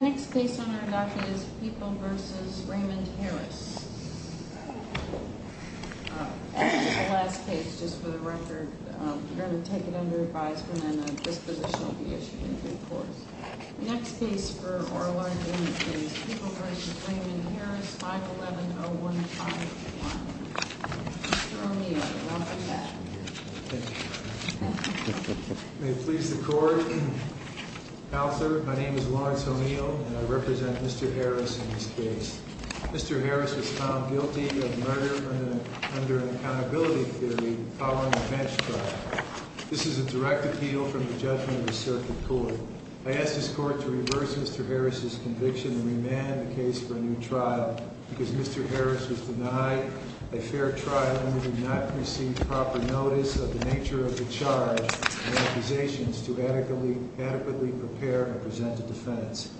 Next case on our dock is People v. Raymond Harris. This is the last case, just for the record. We're going to take it under advisement and a disposition will be issued in due course. The next case for Orlando is People v. Raymond Harris, 511-0151. Mr. O'Neill, welcome back. Thank you. May it please the Court. Counselor, my name is Lawrence O'Neill and I represent Mr. Harris in this case. Mr. Harris was found guilty of murder under an accountability theory following a bench trial. This is a direct appeal from the judgment of the circuit court. I ask this Court to reverse Mr. Harris' conviction and remand the case for a new trial. Because Mr. Harris was denied a fair trial and we did not receive proper notice of the nature of the charge and accusations to adequately prepare and present a defense.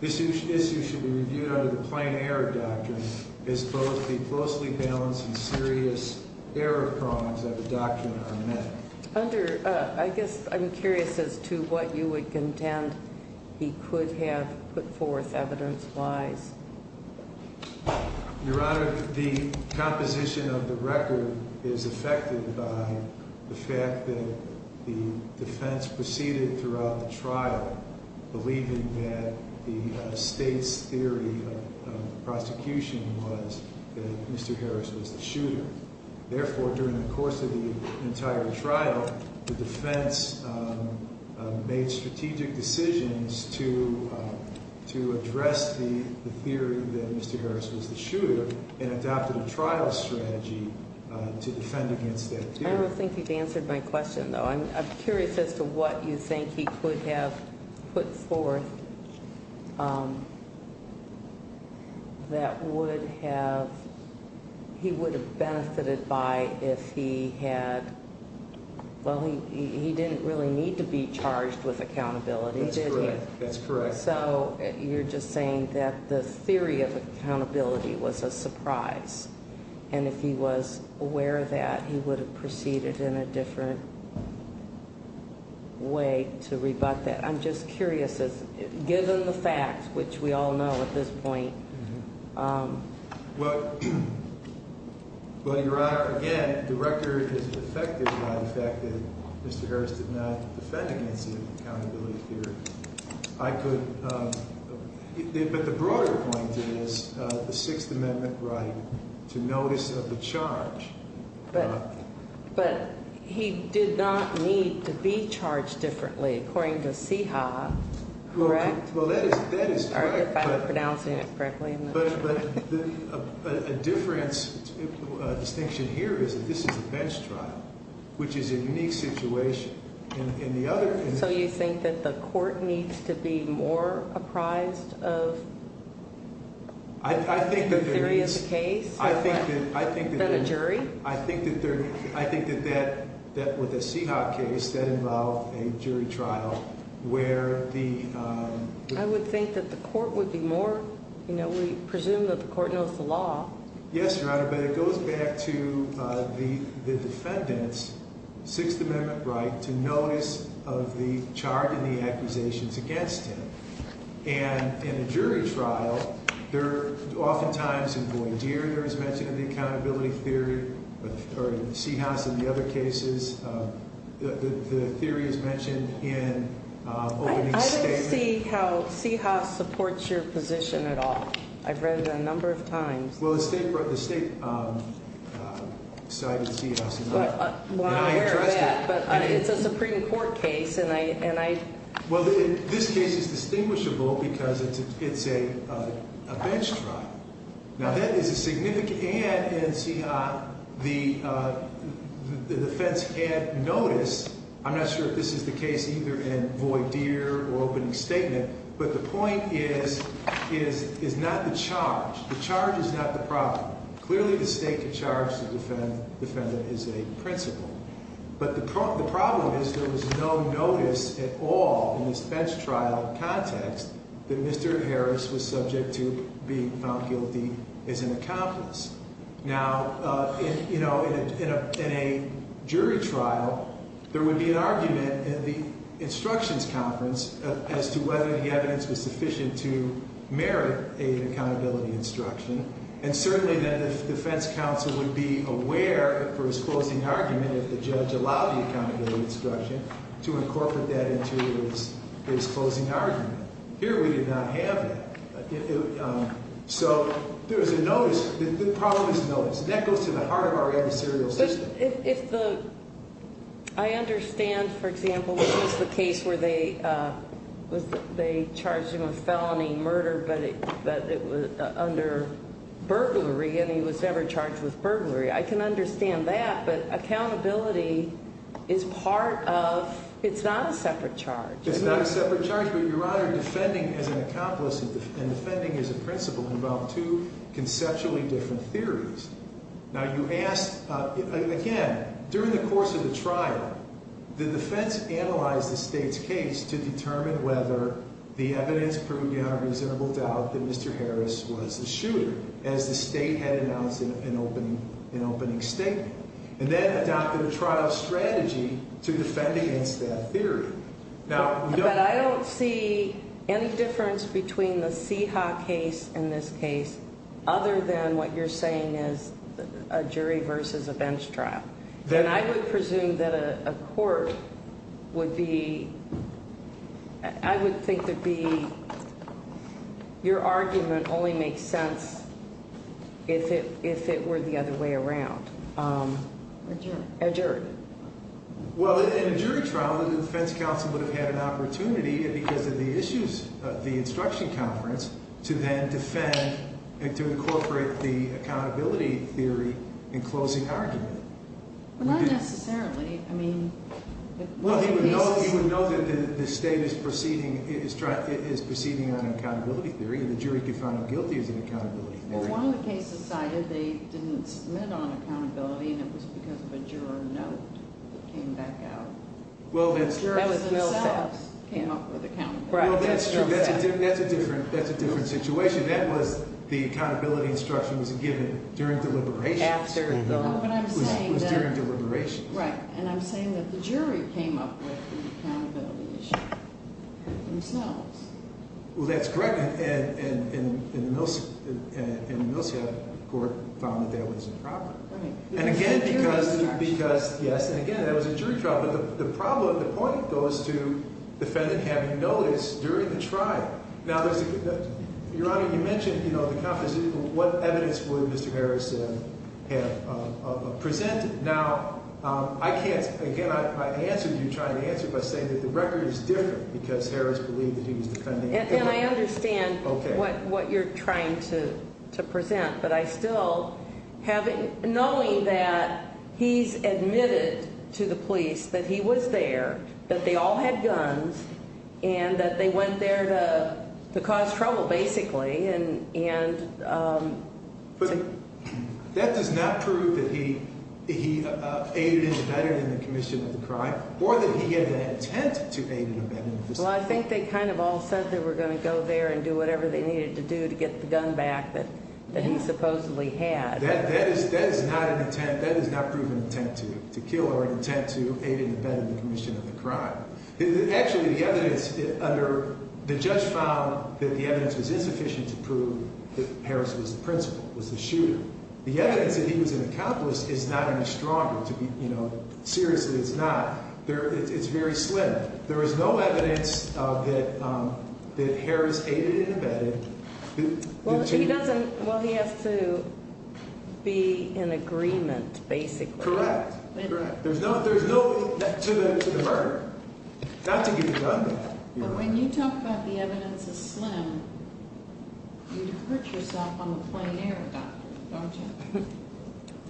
This issue should be reviewed under the plain error doctrine as both the closely balanced and serious error prongs of the doctrine are met. I'm curious as to what you would contend he could have put forth evidence-wise. Your Honor, the composition of the record is affected by the fact that the defense proceeded throughout the trial believing that the state's theory of prosecution was that Mr. Harris was the shooter. Therefore, during the course of the entire trial, the defense made strategic decisions to address the theory that Mr. Harris was the shooter and adopted a trial strategy to defend against that theory. I don't think you've answered my question, though. I'm curious as to what you think he could have put forth that he would have benefited by if he had... Well, he didn't really need to be charged with accountability, did he? That's correct. So you're just saying that the theory of accountability was a surprise. And if he was aware of that, he would have proceeded in a different way to rebut that. I'm just curious, given the facts, which we all know at this point... Well, Your Honor, again, the record is affected by the fact that Mr. Harris did not defend against the accountability theory. But the broader point is the Sixth Amendment right to notice of the charge. But he did not need to be charged differently, according to CIHA, correct? Well, that is correct. Sorry if I'm pronouncing it correctly. But a difference, a distinction here is that this is a bench trial, which is a unique situation. So you think that the court needs to be more apprised of the theory of the case than a jury? I think that with the CIHA case, that involved a jury trial where the... I would think that the court would be more, you know, we presume that the court knows the law. Yes, Your Honor, but it goes back to the defendant's Sixth Amendment right to notice of the charge and the accusations against him. And in a jury trial, they're oftentimes in voir dire. There was mention of the accountability theory, or CIHA in the other cases. The theory is mentioned in opening statement. I don't see how CIHA supports your position at all. I've read it a number of times. Well, the state cited CIHA. Well, I'm aware of that, but it's a Supreme Court case, and I... Well, this case is distinguishable because it's a bench trial. Now, that is a significant... And in CIHA, the defense can't notice. I'm not sure if this is the case either in voir dire or opening statement. But the point is not the charge. The charge is not the problem. Clearly, the state can charge the defendant as a principal. But the problem is there was no notice at all in this bench trial context that Mr. Harris was subject to being found guilty as an accomplice. Now, you know, in a jury trial, there would be an argument at the instructions conference as to whether the evidence was sufficient to merit an accountability instruction. And certainly, then, the defense counsel would be aware for his closing argument if the judge allowed the accountability instruction to incorporate that into his closing argument. Here, we did not have that. So there was a notice. The problem is notice, and that goes to the heart of our adversarial system. But if the... I understand, for example, this is the case where they charged him with felony murder, but it was under burglary, and he was never charged with burglary. I can understand that, but accountability is part of... It's not a separate charge. It's not a separate charge, but, Your Honor, defending as an accomplice and defending as a principal involve two conceptually different theories. Now, you asked... Again, during the course of the trial, the defense analyzed the state's case to determine whether the evidence proved beyond reasonable doubt that Mr. Harris was the shooter, as the state had announced in an opening statement. And then adopted a trial strategy to defend against that theory. But I don't see any difference between the Seha case and this case other than what you're saying is a jury versus a bench trial. Then I would presume that a court would be... I would think there'd be... Your argument only makes sense if it were the other way around. A jury. A jury. Well, in a jury trial, the defense counsel would have had an opportunity, because of the issues of the instruction conference, to then defend and to incorporate the accountability theory in closing argument. Well, not necessarily. I mean... Well, he would know that the state is proceeding on an accountability theory, and the jury could find him guilty as an accountability theory. Well, one of the cases cited, they didn't submit on accountability, and it was because of a juror note that came back out. Well, that's true. The jurors themselves came up with accountability. Well, that's true. That's a different situation. That was... The accountability instruction was given during deliberation. After the... No, what I'm saying is... It was during deliberation. Right. And I'm saying that the jury came up with the accountability issue themselves. Well, that's correct. And the Milsad court found that that was a problem. Right. And again, because... Because, yes, and again, that was a jury trial. But the problem, the point goes to defendant having noticed during the trial. Now, there's a... Your Honor, you mentioned, you know, the conference. What evidence would Mr. Harris have presented? Now, I can't... Again, I answered what you're trying to answer by saying that the record is different, because Harris believed that he was defending... And I understand what you're trying to present. But I still have... Knowing that he's admitted to the police that he was there, that they all had guns, and that they went there to cause trouble, basically, and... But that does not prove that he aided a veteran in the commission of the crime or that he had an intent to aid a veteran. Well, I think they kind of all said they were going to go there and do whatever they needed to do to get the gun back that he supposedly had. That is not an intent. That does not prove an intent to kill or an intent to aid a veteran in the commission of the crime. Actually, the evidence under... The judge found that the evidence was insufficient to prove that Harris was the principal, was the shooter. The evidence that he was an accomplice is not any stronger to be, you know... Seriously, it's not. It's very slim. There is no evidence that Harris aided and abetted... Well, he doesn't... Well, he has to be in agreement, basically. Correct. There's no... To the murder. Not to get the gun back. When you talk about the evidence is slim, you'd hurt yourself on the plane air, doctor, don't you?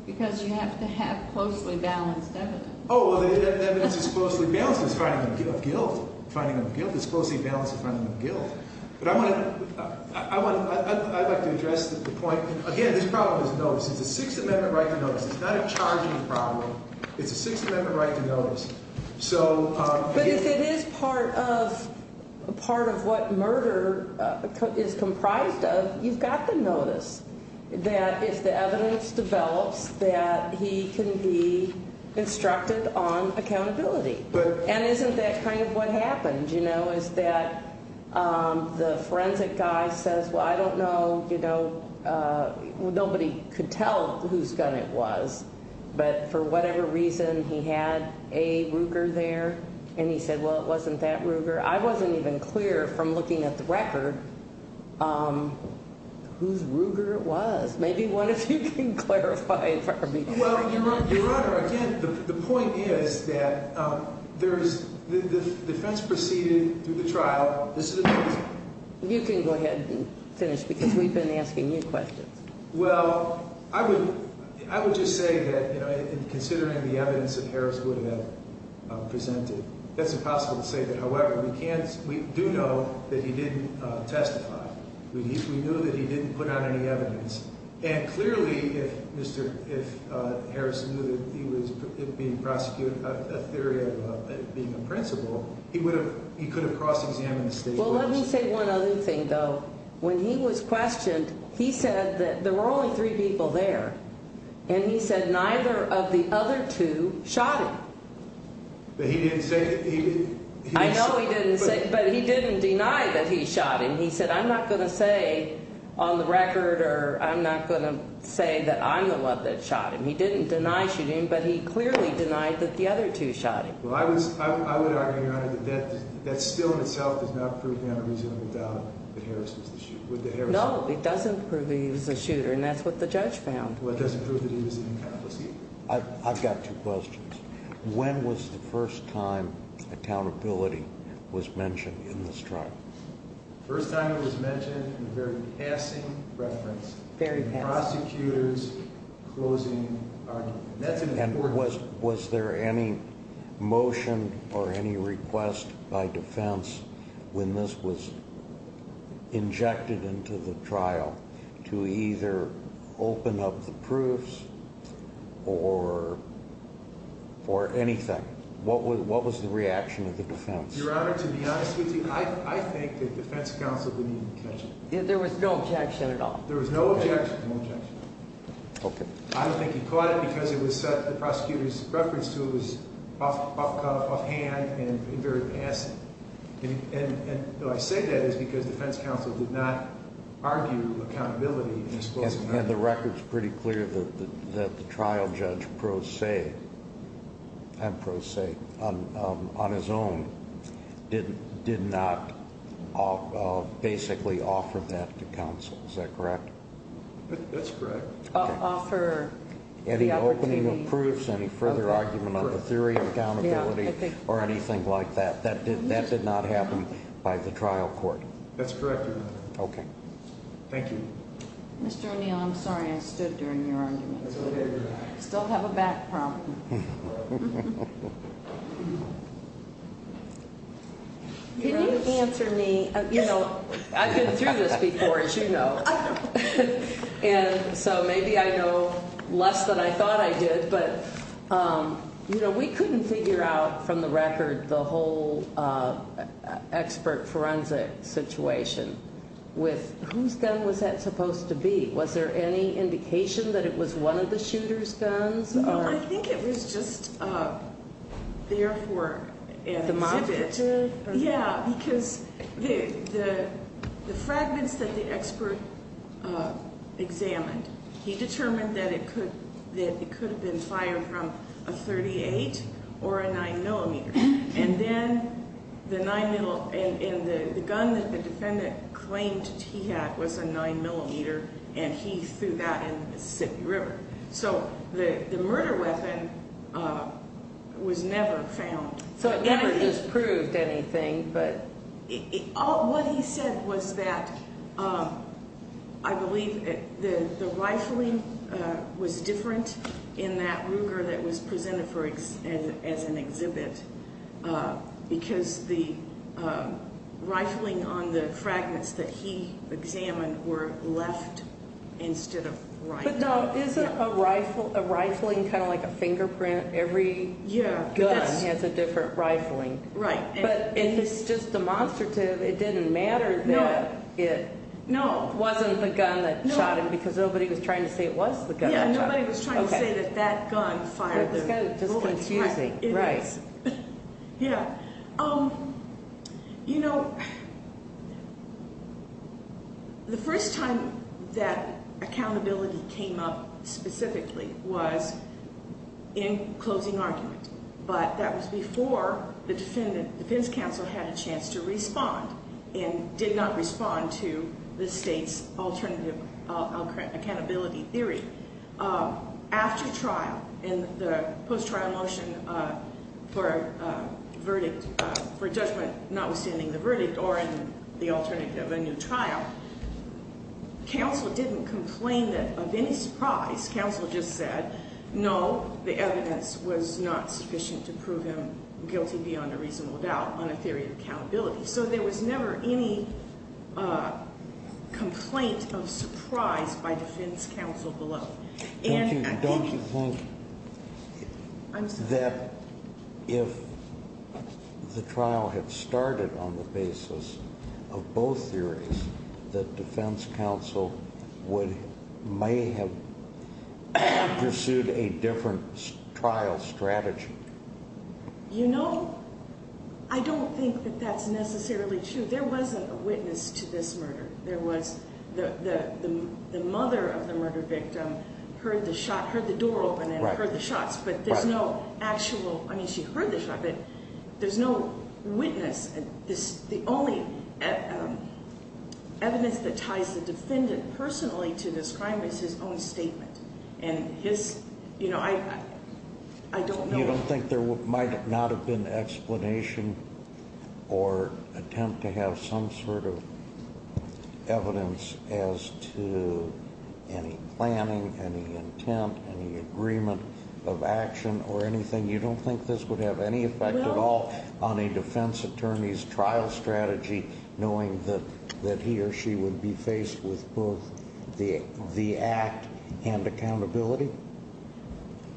Because you have to have closely balanced evidence. Oh, well, the evidence is closely balanced. It's a finding of guilt. It's a closely balanced finding of guilt. But I want to... I'd like to address the point. Again, this problem is notice. It's a Sixth Amendment right to notice. It's not a charging problem. It's a Sixth Amendment right to notice. So... If it is part of what murder is comprised of, you've got the notice. That if the evidence develops, that he can be instructed on accountability. And isn't that kind of what happened, you know, is that the forensic guy says, well, I don't know, you know, nobody could tell whose gun it was, but for whatever reason, he had a Ruger there, and he said, well, it wasn't that Ruger. I wasn't even clear from looking at the record whose Ruger it was. Maybe one of you can clarify it for me. Well, Your Honor, again, the point is that the defense proceeded through the trial. You can go ahead and finish because we've been asking you questions. Well, I would just say that, you know, in considering the evidence that Harris would have presented, that's impossible to say that, however, we do know that he didn't testify. We knew that he didn't put out any evidence. And clearly, if Mr. Harris knew that he was being prosecuted, a theory of being a principal, he could have cross-examined the statement. Well, let me say one other thing, though. When he was questioned, he said that there were only three people there, and he said neither of the other two shot him. But he didn't say that he did? I know he didn't say it, but he didn't deny that he shot him. He said, I'm not going to say on the record or I'm not going to say that I'm the one that shot him. He didn't deny shooting, but he clearly denied that the other two shot him. Well, I would argue, Your Honor, that that still in itself does not prove to have a reasonable doubt that Harris was the shooter. No, it doesn't prove that he was the shooter, and that's what the judge found. Well, it doesn't prove that he was an incompetent shooter. I've got two questions. When was the first time accountability was mentioned in this trial? The first time it was mentioned in a very passing reference. Very passing. Prosecutors closing argument. And was there any motion or any request by defense when this was injected into the trial to either open up the proofs or anything? What was the reaction of the defense? Your Honor, to be honest with you, I think the defense counsel didn't even catch it. There was no objection at all? There was no objection. Okay. I don't think he caught it because it was the prosecutor's reference to it was offhand and very passing. And I say that is because the defense counsel did not argue accountability in this closing argument. And the record's pretty clear that the trial judge pro se, on his own, did not basically offer that to counsel. Is that correct? That's correct. Offer the opportunity. Any opening of proofs, any further argument on the theory of accountability or anything like that. That did not happen by the trial court. That's correct, Your Honor. Okay. Thank you. Mr. O'Neill, I'm sorry I stood during your argument. It's okay. Still have a back problem. Can you answer me? You know, I've been through this before, as you know. And so maybe I know less than I thought I did. But, you know, we couldn't figure out from the record the whole expert forensic situation with whose gun was that supposed to be? Was there any indication that it was one of the shooter's guns? No, I think it was just there for an exhibit. Yeah, because the fragments that the expert examined, he determined that it could have been fired from a .38 or a 9mm. And then the gun that the defendant claimed he had was a 9mm, and he threw that in the Mississippi River. So the murder weapon was never found. So it never just proved anything. What he said was that I believe the rifling was different in that Ruger that was presented as an exhibit, because the rifling on the fragments that he examined were left instead of right. No, isn't a rifling kind of like a fingerprint? Every gun has a different rifling. Right. But it's just demonstrative. It didn't matter that it wasn't the gun that shot him, because nobody was trying to say it was the gun that shot him. Yeah, nobody was trying to say that that gun fired the bullet. It's kind of just confusing. Right. Yes. Yeah. You know, the first time that accountability came up specifically was in closing argument, but that was before the defense counsel had a chance to respond and did not respond to the state's alternative accountability theory. After trial, in the post-trial motion for a verdict for judgment notwithstanding the verdict or in the alternative of a new trial, counsel didn't complain of any surprise. Counsel just said, no, the evidence was not sufficient to prove him guilty beyond a reasonable doubt on a theory of accountability. So there was never any complaint of surprise by defense counsel below. Don't you think that if the trial had started on the basis of both theories, that defense counsel may have pursued a different trial strategy? You know, I don't think that that's necessarily true. There was a witness to this murder. There was the mother of the murder victim heard the shot, heard the door open and heard the shots, but there's no actual. I mean, she heard the shot, but there's no witness. The only evidence that ties the defendant personally to this crime is his own statement, and his, you know, I don't know. You don't think there might not have been explanation or attempt to have some sort of evidence as to any planning, any intent, any agreement of action or anything? You don't think this would have any effect at all on a defense attorney's trial strategy, knowing that he or she would be faced with both the act and accountability?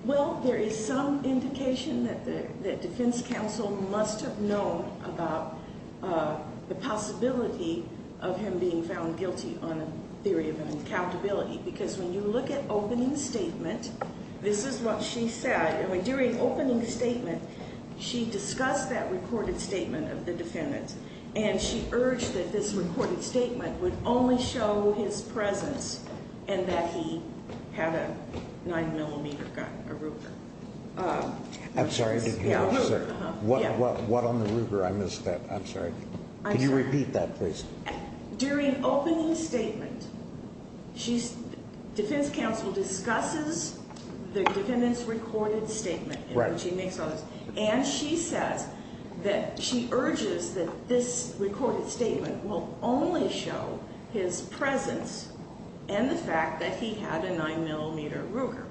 Well, there is some indication that defense counsel must have known about the possibility of him being found guilty on a theory of an accountability, because when you look at opening statement, this is what she said. During opening statement, she discussed that recorded statement of the defendant, and she urged that this recorded statement would only show his presence and that he had a 9mm gun, a Ruger. I'm sorry, what on the Ruger? I missed that. I'm sorry. Could you repeat that, please? During opening statement, defense counsel discusses the defendant's recorded statement, and she says that she urges that this recorded statement will only show his presence and the fact that he had a 9mm Ruger.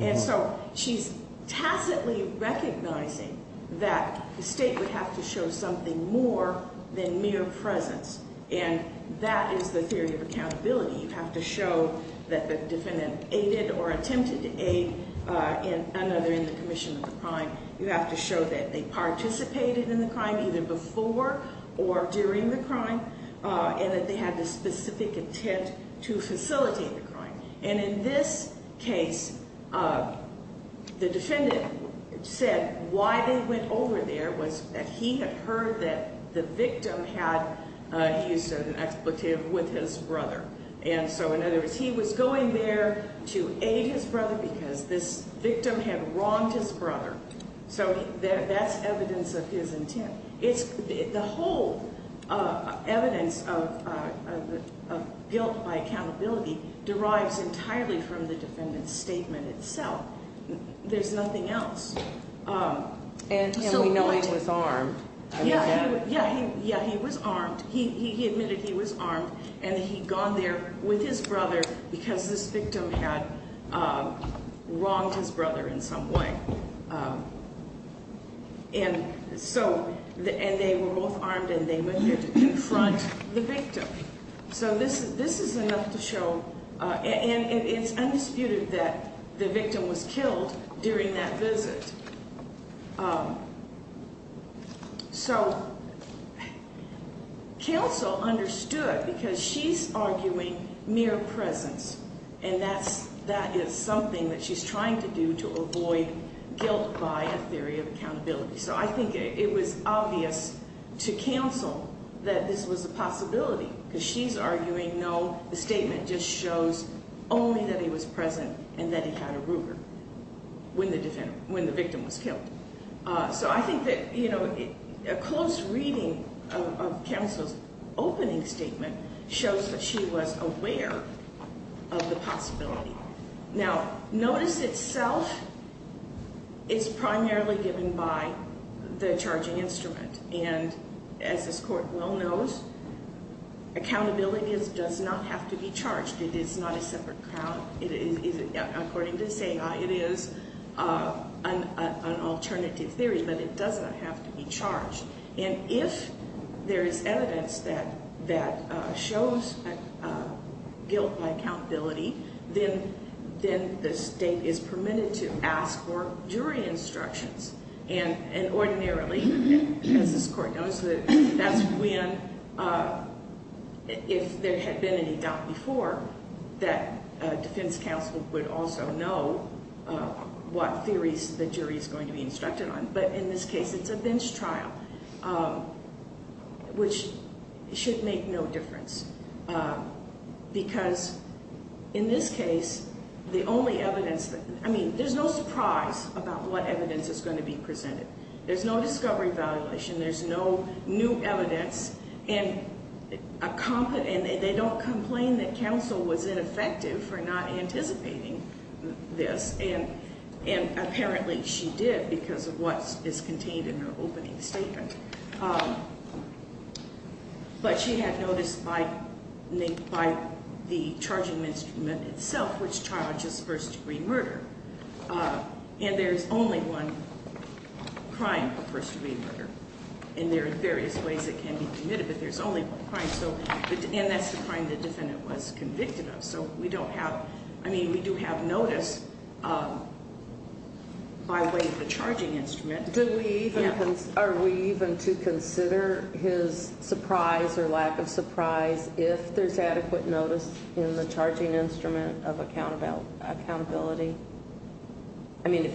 And so she's tacitly recognizing that the state would have to show something more than mere presence, and that is the theory of accountability. You have to show that the defendant aided or attempted to aid another in the commission of the crime. You have to show that they participated in the crime, either before or during the crime, and that they had the specific intent to facilitate the crime. And in this case, the defendant said why they went over there was that he had heard that the victim had used an expletive with his brother. And so in other words, he was going there to aid his brother because this victim had wronged his brother. So that's evidence of his intent. The whole evidence of guilt by accountability derives entirely from the defendant's statement itself. There's nothing else. And we know he was armed. Yeah, he was armed. He admitted he was armed, and he'd gone there with his brother because this victim had wronged his brother in some way. And so they were both armed, and they went there to confront the victim. So this is enough to show, and it's undisputed that the victim was killed during that visit. So counsel understood because she's arguing mere presence, and that is something that she's trying to do to avoid guilt by a theory of accountability. So I think it was obvious to counsel that this was a possibility because she's arguing, no, the statement just shows only that he was present and that he had a Ruger. When the victim was killed. So I think that a close reading of counsel's opening statement shows that she was aware of the possibility. Now, notice itself is primarily given by the charging instrument. And as this court well knows, accountability does not have to be charged. It is not a separate count. According to this AI, it is an alternative theory, but it doesn't have to be charged. And if there is evidence that shows guilt by accountability, then the state is permitted to ask for jury instructions. And ordinarily, as this court knows, that's when, if there had been any doubt before, that defense counsel would also know what theories the jury is going to be instructed on. But in this case, it's a bench trial, which should make no difference. Because in this case, the only evidence that, I mean, there's no surprise about what evidence is going to be presented. There's no discovery evaluation. There's no new evidence. And they don't complain that counsel was ineffective for not anticipating this. And apparently she did because of what is contained in her opening statement. But she had notice by the charging instrument itself, which charges first-degree murder. And there's only one crime of first-degree murder. And there are various ways it can be committed, but there's only one crime. And that's the crime the defendant was convicted of. So we don't have, I mean, we do have notice by way of the charging instrument. Are we even to consider his surprise or lack of surprise if there's adequate notice in the charging instrument of accountability? I mean, if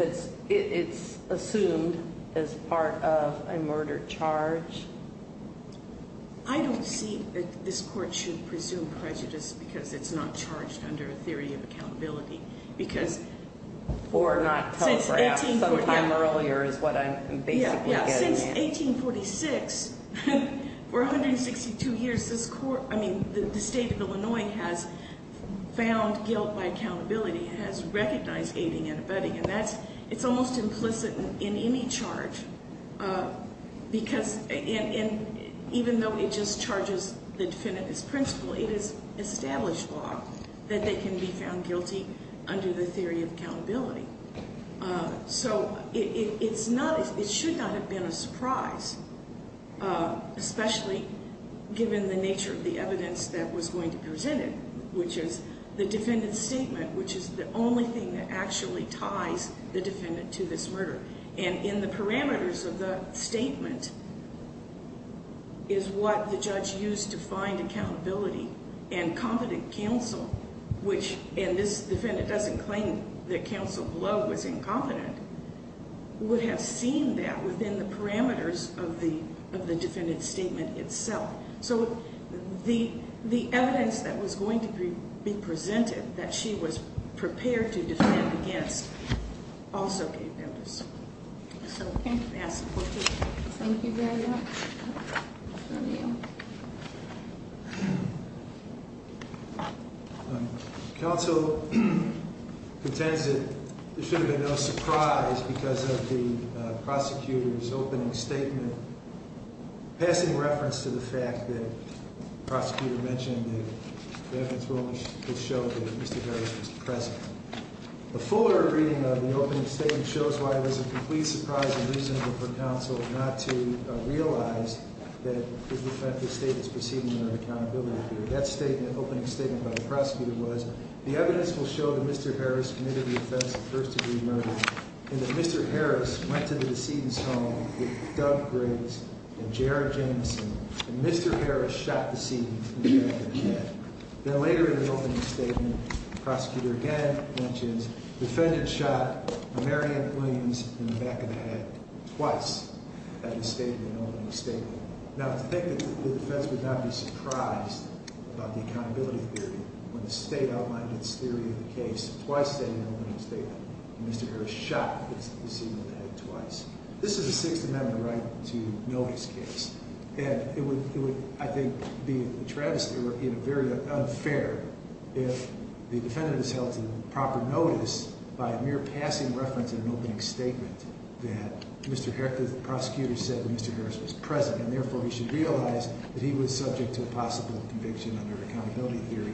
it's assumed as part of a murder charge? I don't see that this court should presume prejudice because it's not charged under a theory of accountability. Or not telegraphed sometime earlier is what I'm basically getting at. Since 1846, for 162 years, this court, I mean, the state of Illinois has found guilt by accountability. It has recognized aiding and abetting. And that's, it's almost implicit in any charge because, and even though it just charges the defendant as principal, it is established law that they can be found guilty under the theory of accountability. So it's not, it should not have been a surprise, especially given the nature of the evidence that was going to present it, which is the defendant's statement, which is the only thing that actually ties the defendant to this murder. And in the parameters of the statement is what the judge used to find accountability. And competent counsel, which, and this defendant doesn't claim that counsel Blow was incompetent, would have seen that within the parameters of the defendant's statement itself. So the evidence that was going to be presented that she was prepared to defend against also gave evidence. So thank you for that support. Thank you very much. Thank you. Counsel contends that there should have been no surprise because of the prosecutor's opening statement, passing reference to the fact that the prosecutor mentioned that the evidence will only show that Mr. Harris was present. The fuller reading of the opening statement shows why it was a complete surprise and reasonable for counsel not to realize that the defendant's statement is proceeding under accountability. That statement, opening statement by the prosecutor was, the evidence will show that Mr. Harris committed the offense of first degree murder, and that Mr. Harris went to the decedent's home with Doug Griggs and J.R. Jameson, and Mr. Harris shot the decedent. Then later in the opening statement, the prosecutor again mentions, the defendant shot Marian Williams in the back of the head twice at the opening statement. Now to think that the defense would not be surprised about the accountability theory when the state outlined its theory of the case twice in the opening statement, and Mr. Harris shot the decedent in the head twice. This is a Sixth Amendment right to notice case, and it would, I think, be a travesty or very unfair if the defendant is held to proper notice by a mere passing reference in an opening statement that the prosecutor said that Mr. Harris was present, and therefore he should realize that he was subject to a possible conviction under accountability theory,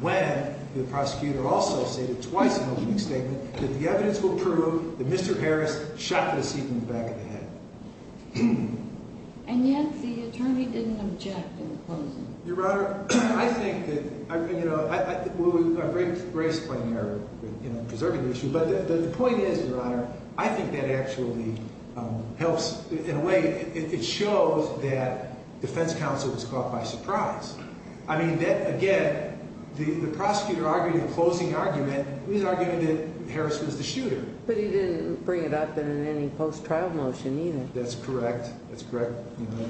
when the prosecutor also stated twice in the opening statement that the evidence will prove that Mr. Harris shot the decedent in the back of the head. And yet the attorney didn't object in the closing. Your Honor, I think that, you know, we're gracefully preserving the issue, but the point is, Your Honor, I think that actually helps in a way, it shows that defense counsel was caught by surprise. I mean that, again, the prosecutor argued in the closing argument, he was arguing that Harris was the shooter. But he didn't bring it up in any post-trial motion either. That's correct. That's correct.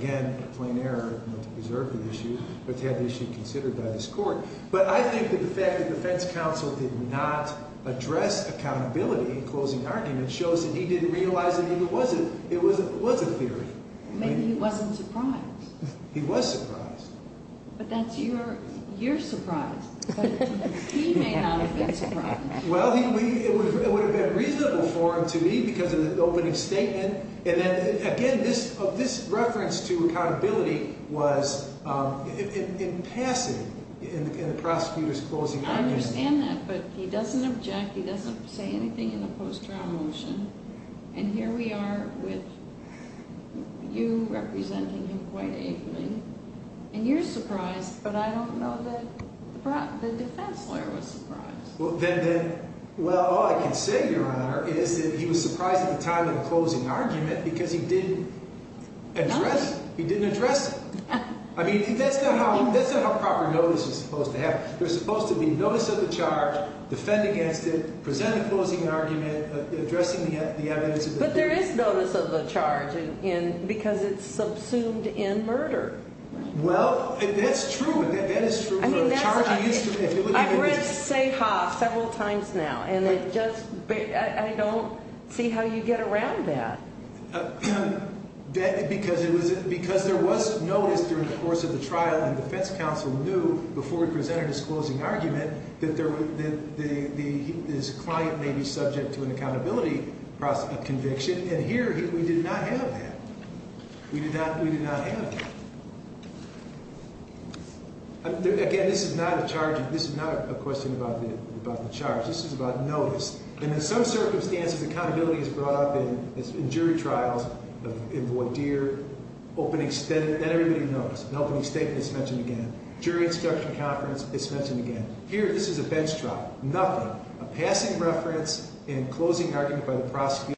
Again, a plain error not to preserve the issue, but to have the issue considered by this court. But I think that the fact that defense counsel did not address accountability in the closing argument shows that he didn't realize that it was a theory. Maybe he wasn't surprised. He was surprised. But that's your surprise, but he may not have been surprised. Well, it would have been reasonable for him to be because of the opening statement. And then, again, this reference to accountability was impassive in the prosecutor's closing argument. I understand that, but he doesn't object. He doesn't say anything in the post-trial motion. And here we are with you representing him quite ably. And you're surprised, but I don't know that the defense lawyer was surprised. Well, all I can say, Your Honor, is that he was surprised at the time of the closing argument because he didn't address it. He didn't address it. I mean, that's not how proper notice is supposed to happen. There's supposed to be notice of the charge, defend against it, present the closing argument, addressing the evidence of the charge. But there is notice of the charge because it's subsumed in murder. Well, that's true. That is true. I've read Sayhoff several times now, and I don't see how you get around that. Because there was notice during the course of the trial, and the defense counsel knew before he presented his closing argument that his client may be subject to an accountability conviction. And here we did not have that. We did not have that. Again, this is not a question about the charge. This is about notice. And in some circumstances, accountability is brought up in jury trials, in voir dire, opening statement, that everybody knows. An opening statement is mentioned again. Jury instruction conference, it's mentioned again. Here, this is a bench trial. Nothing. A passing reference and closing argument by the prosecutor.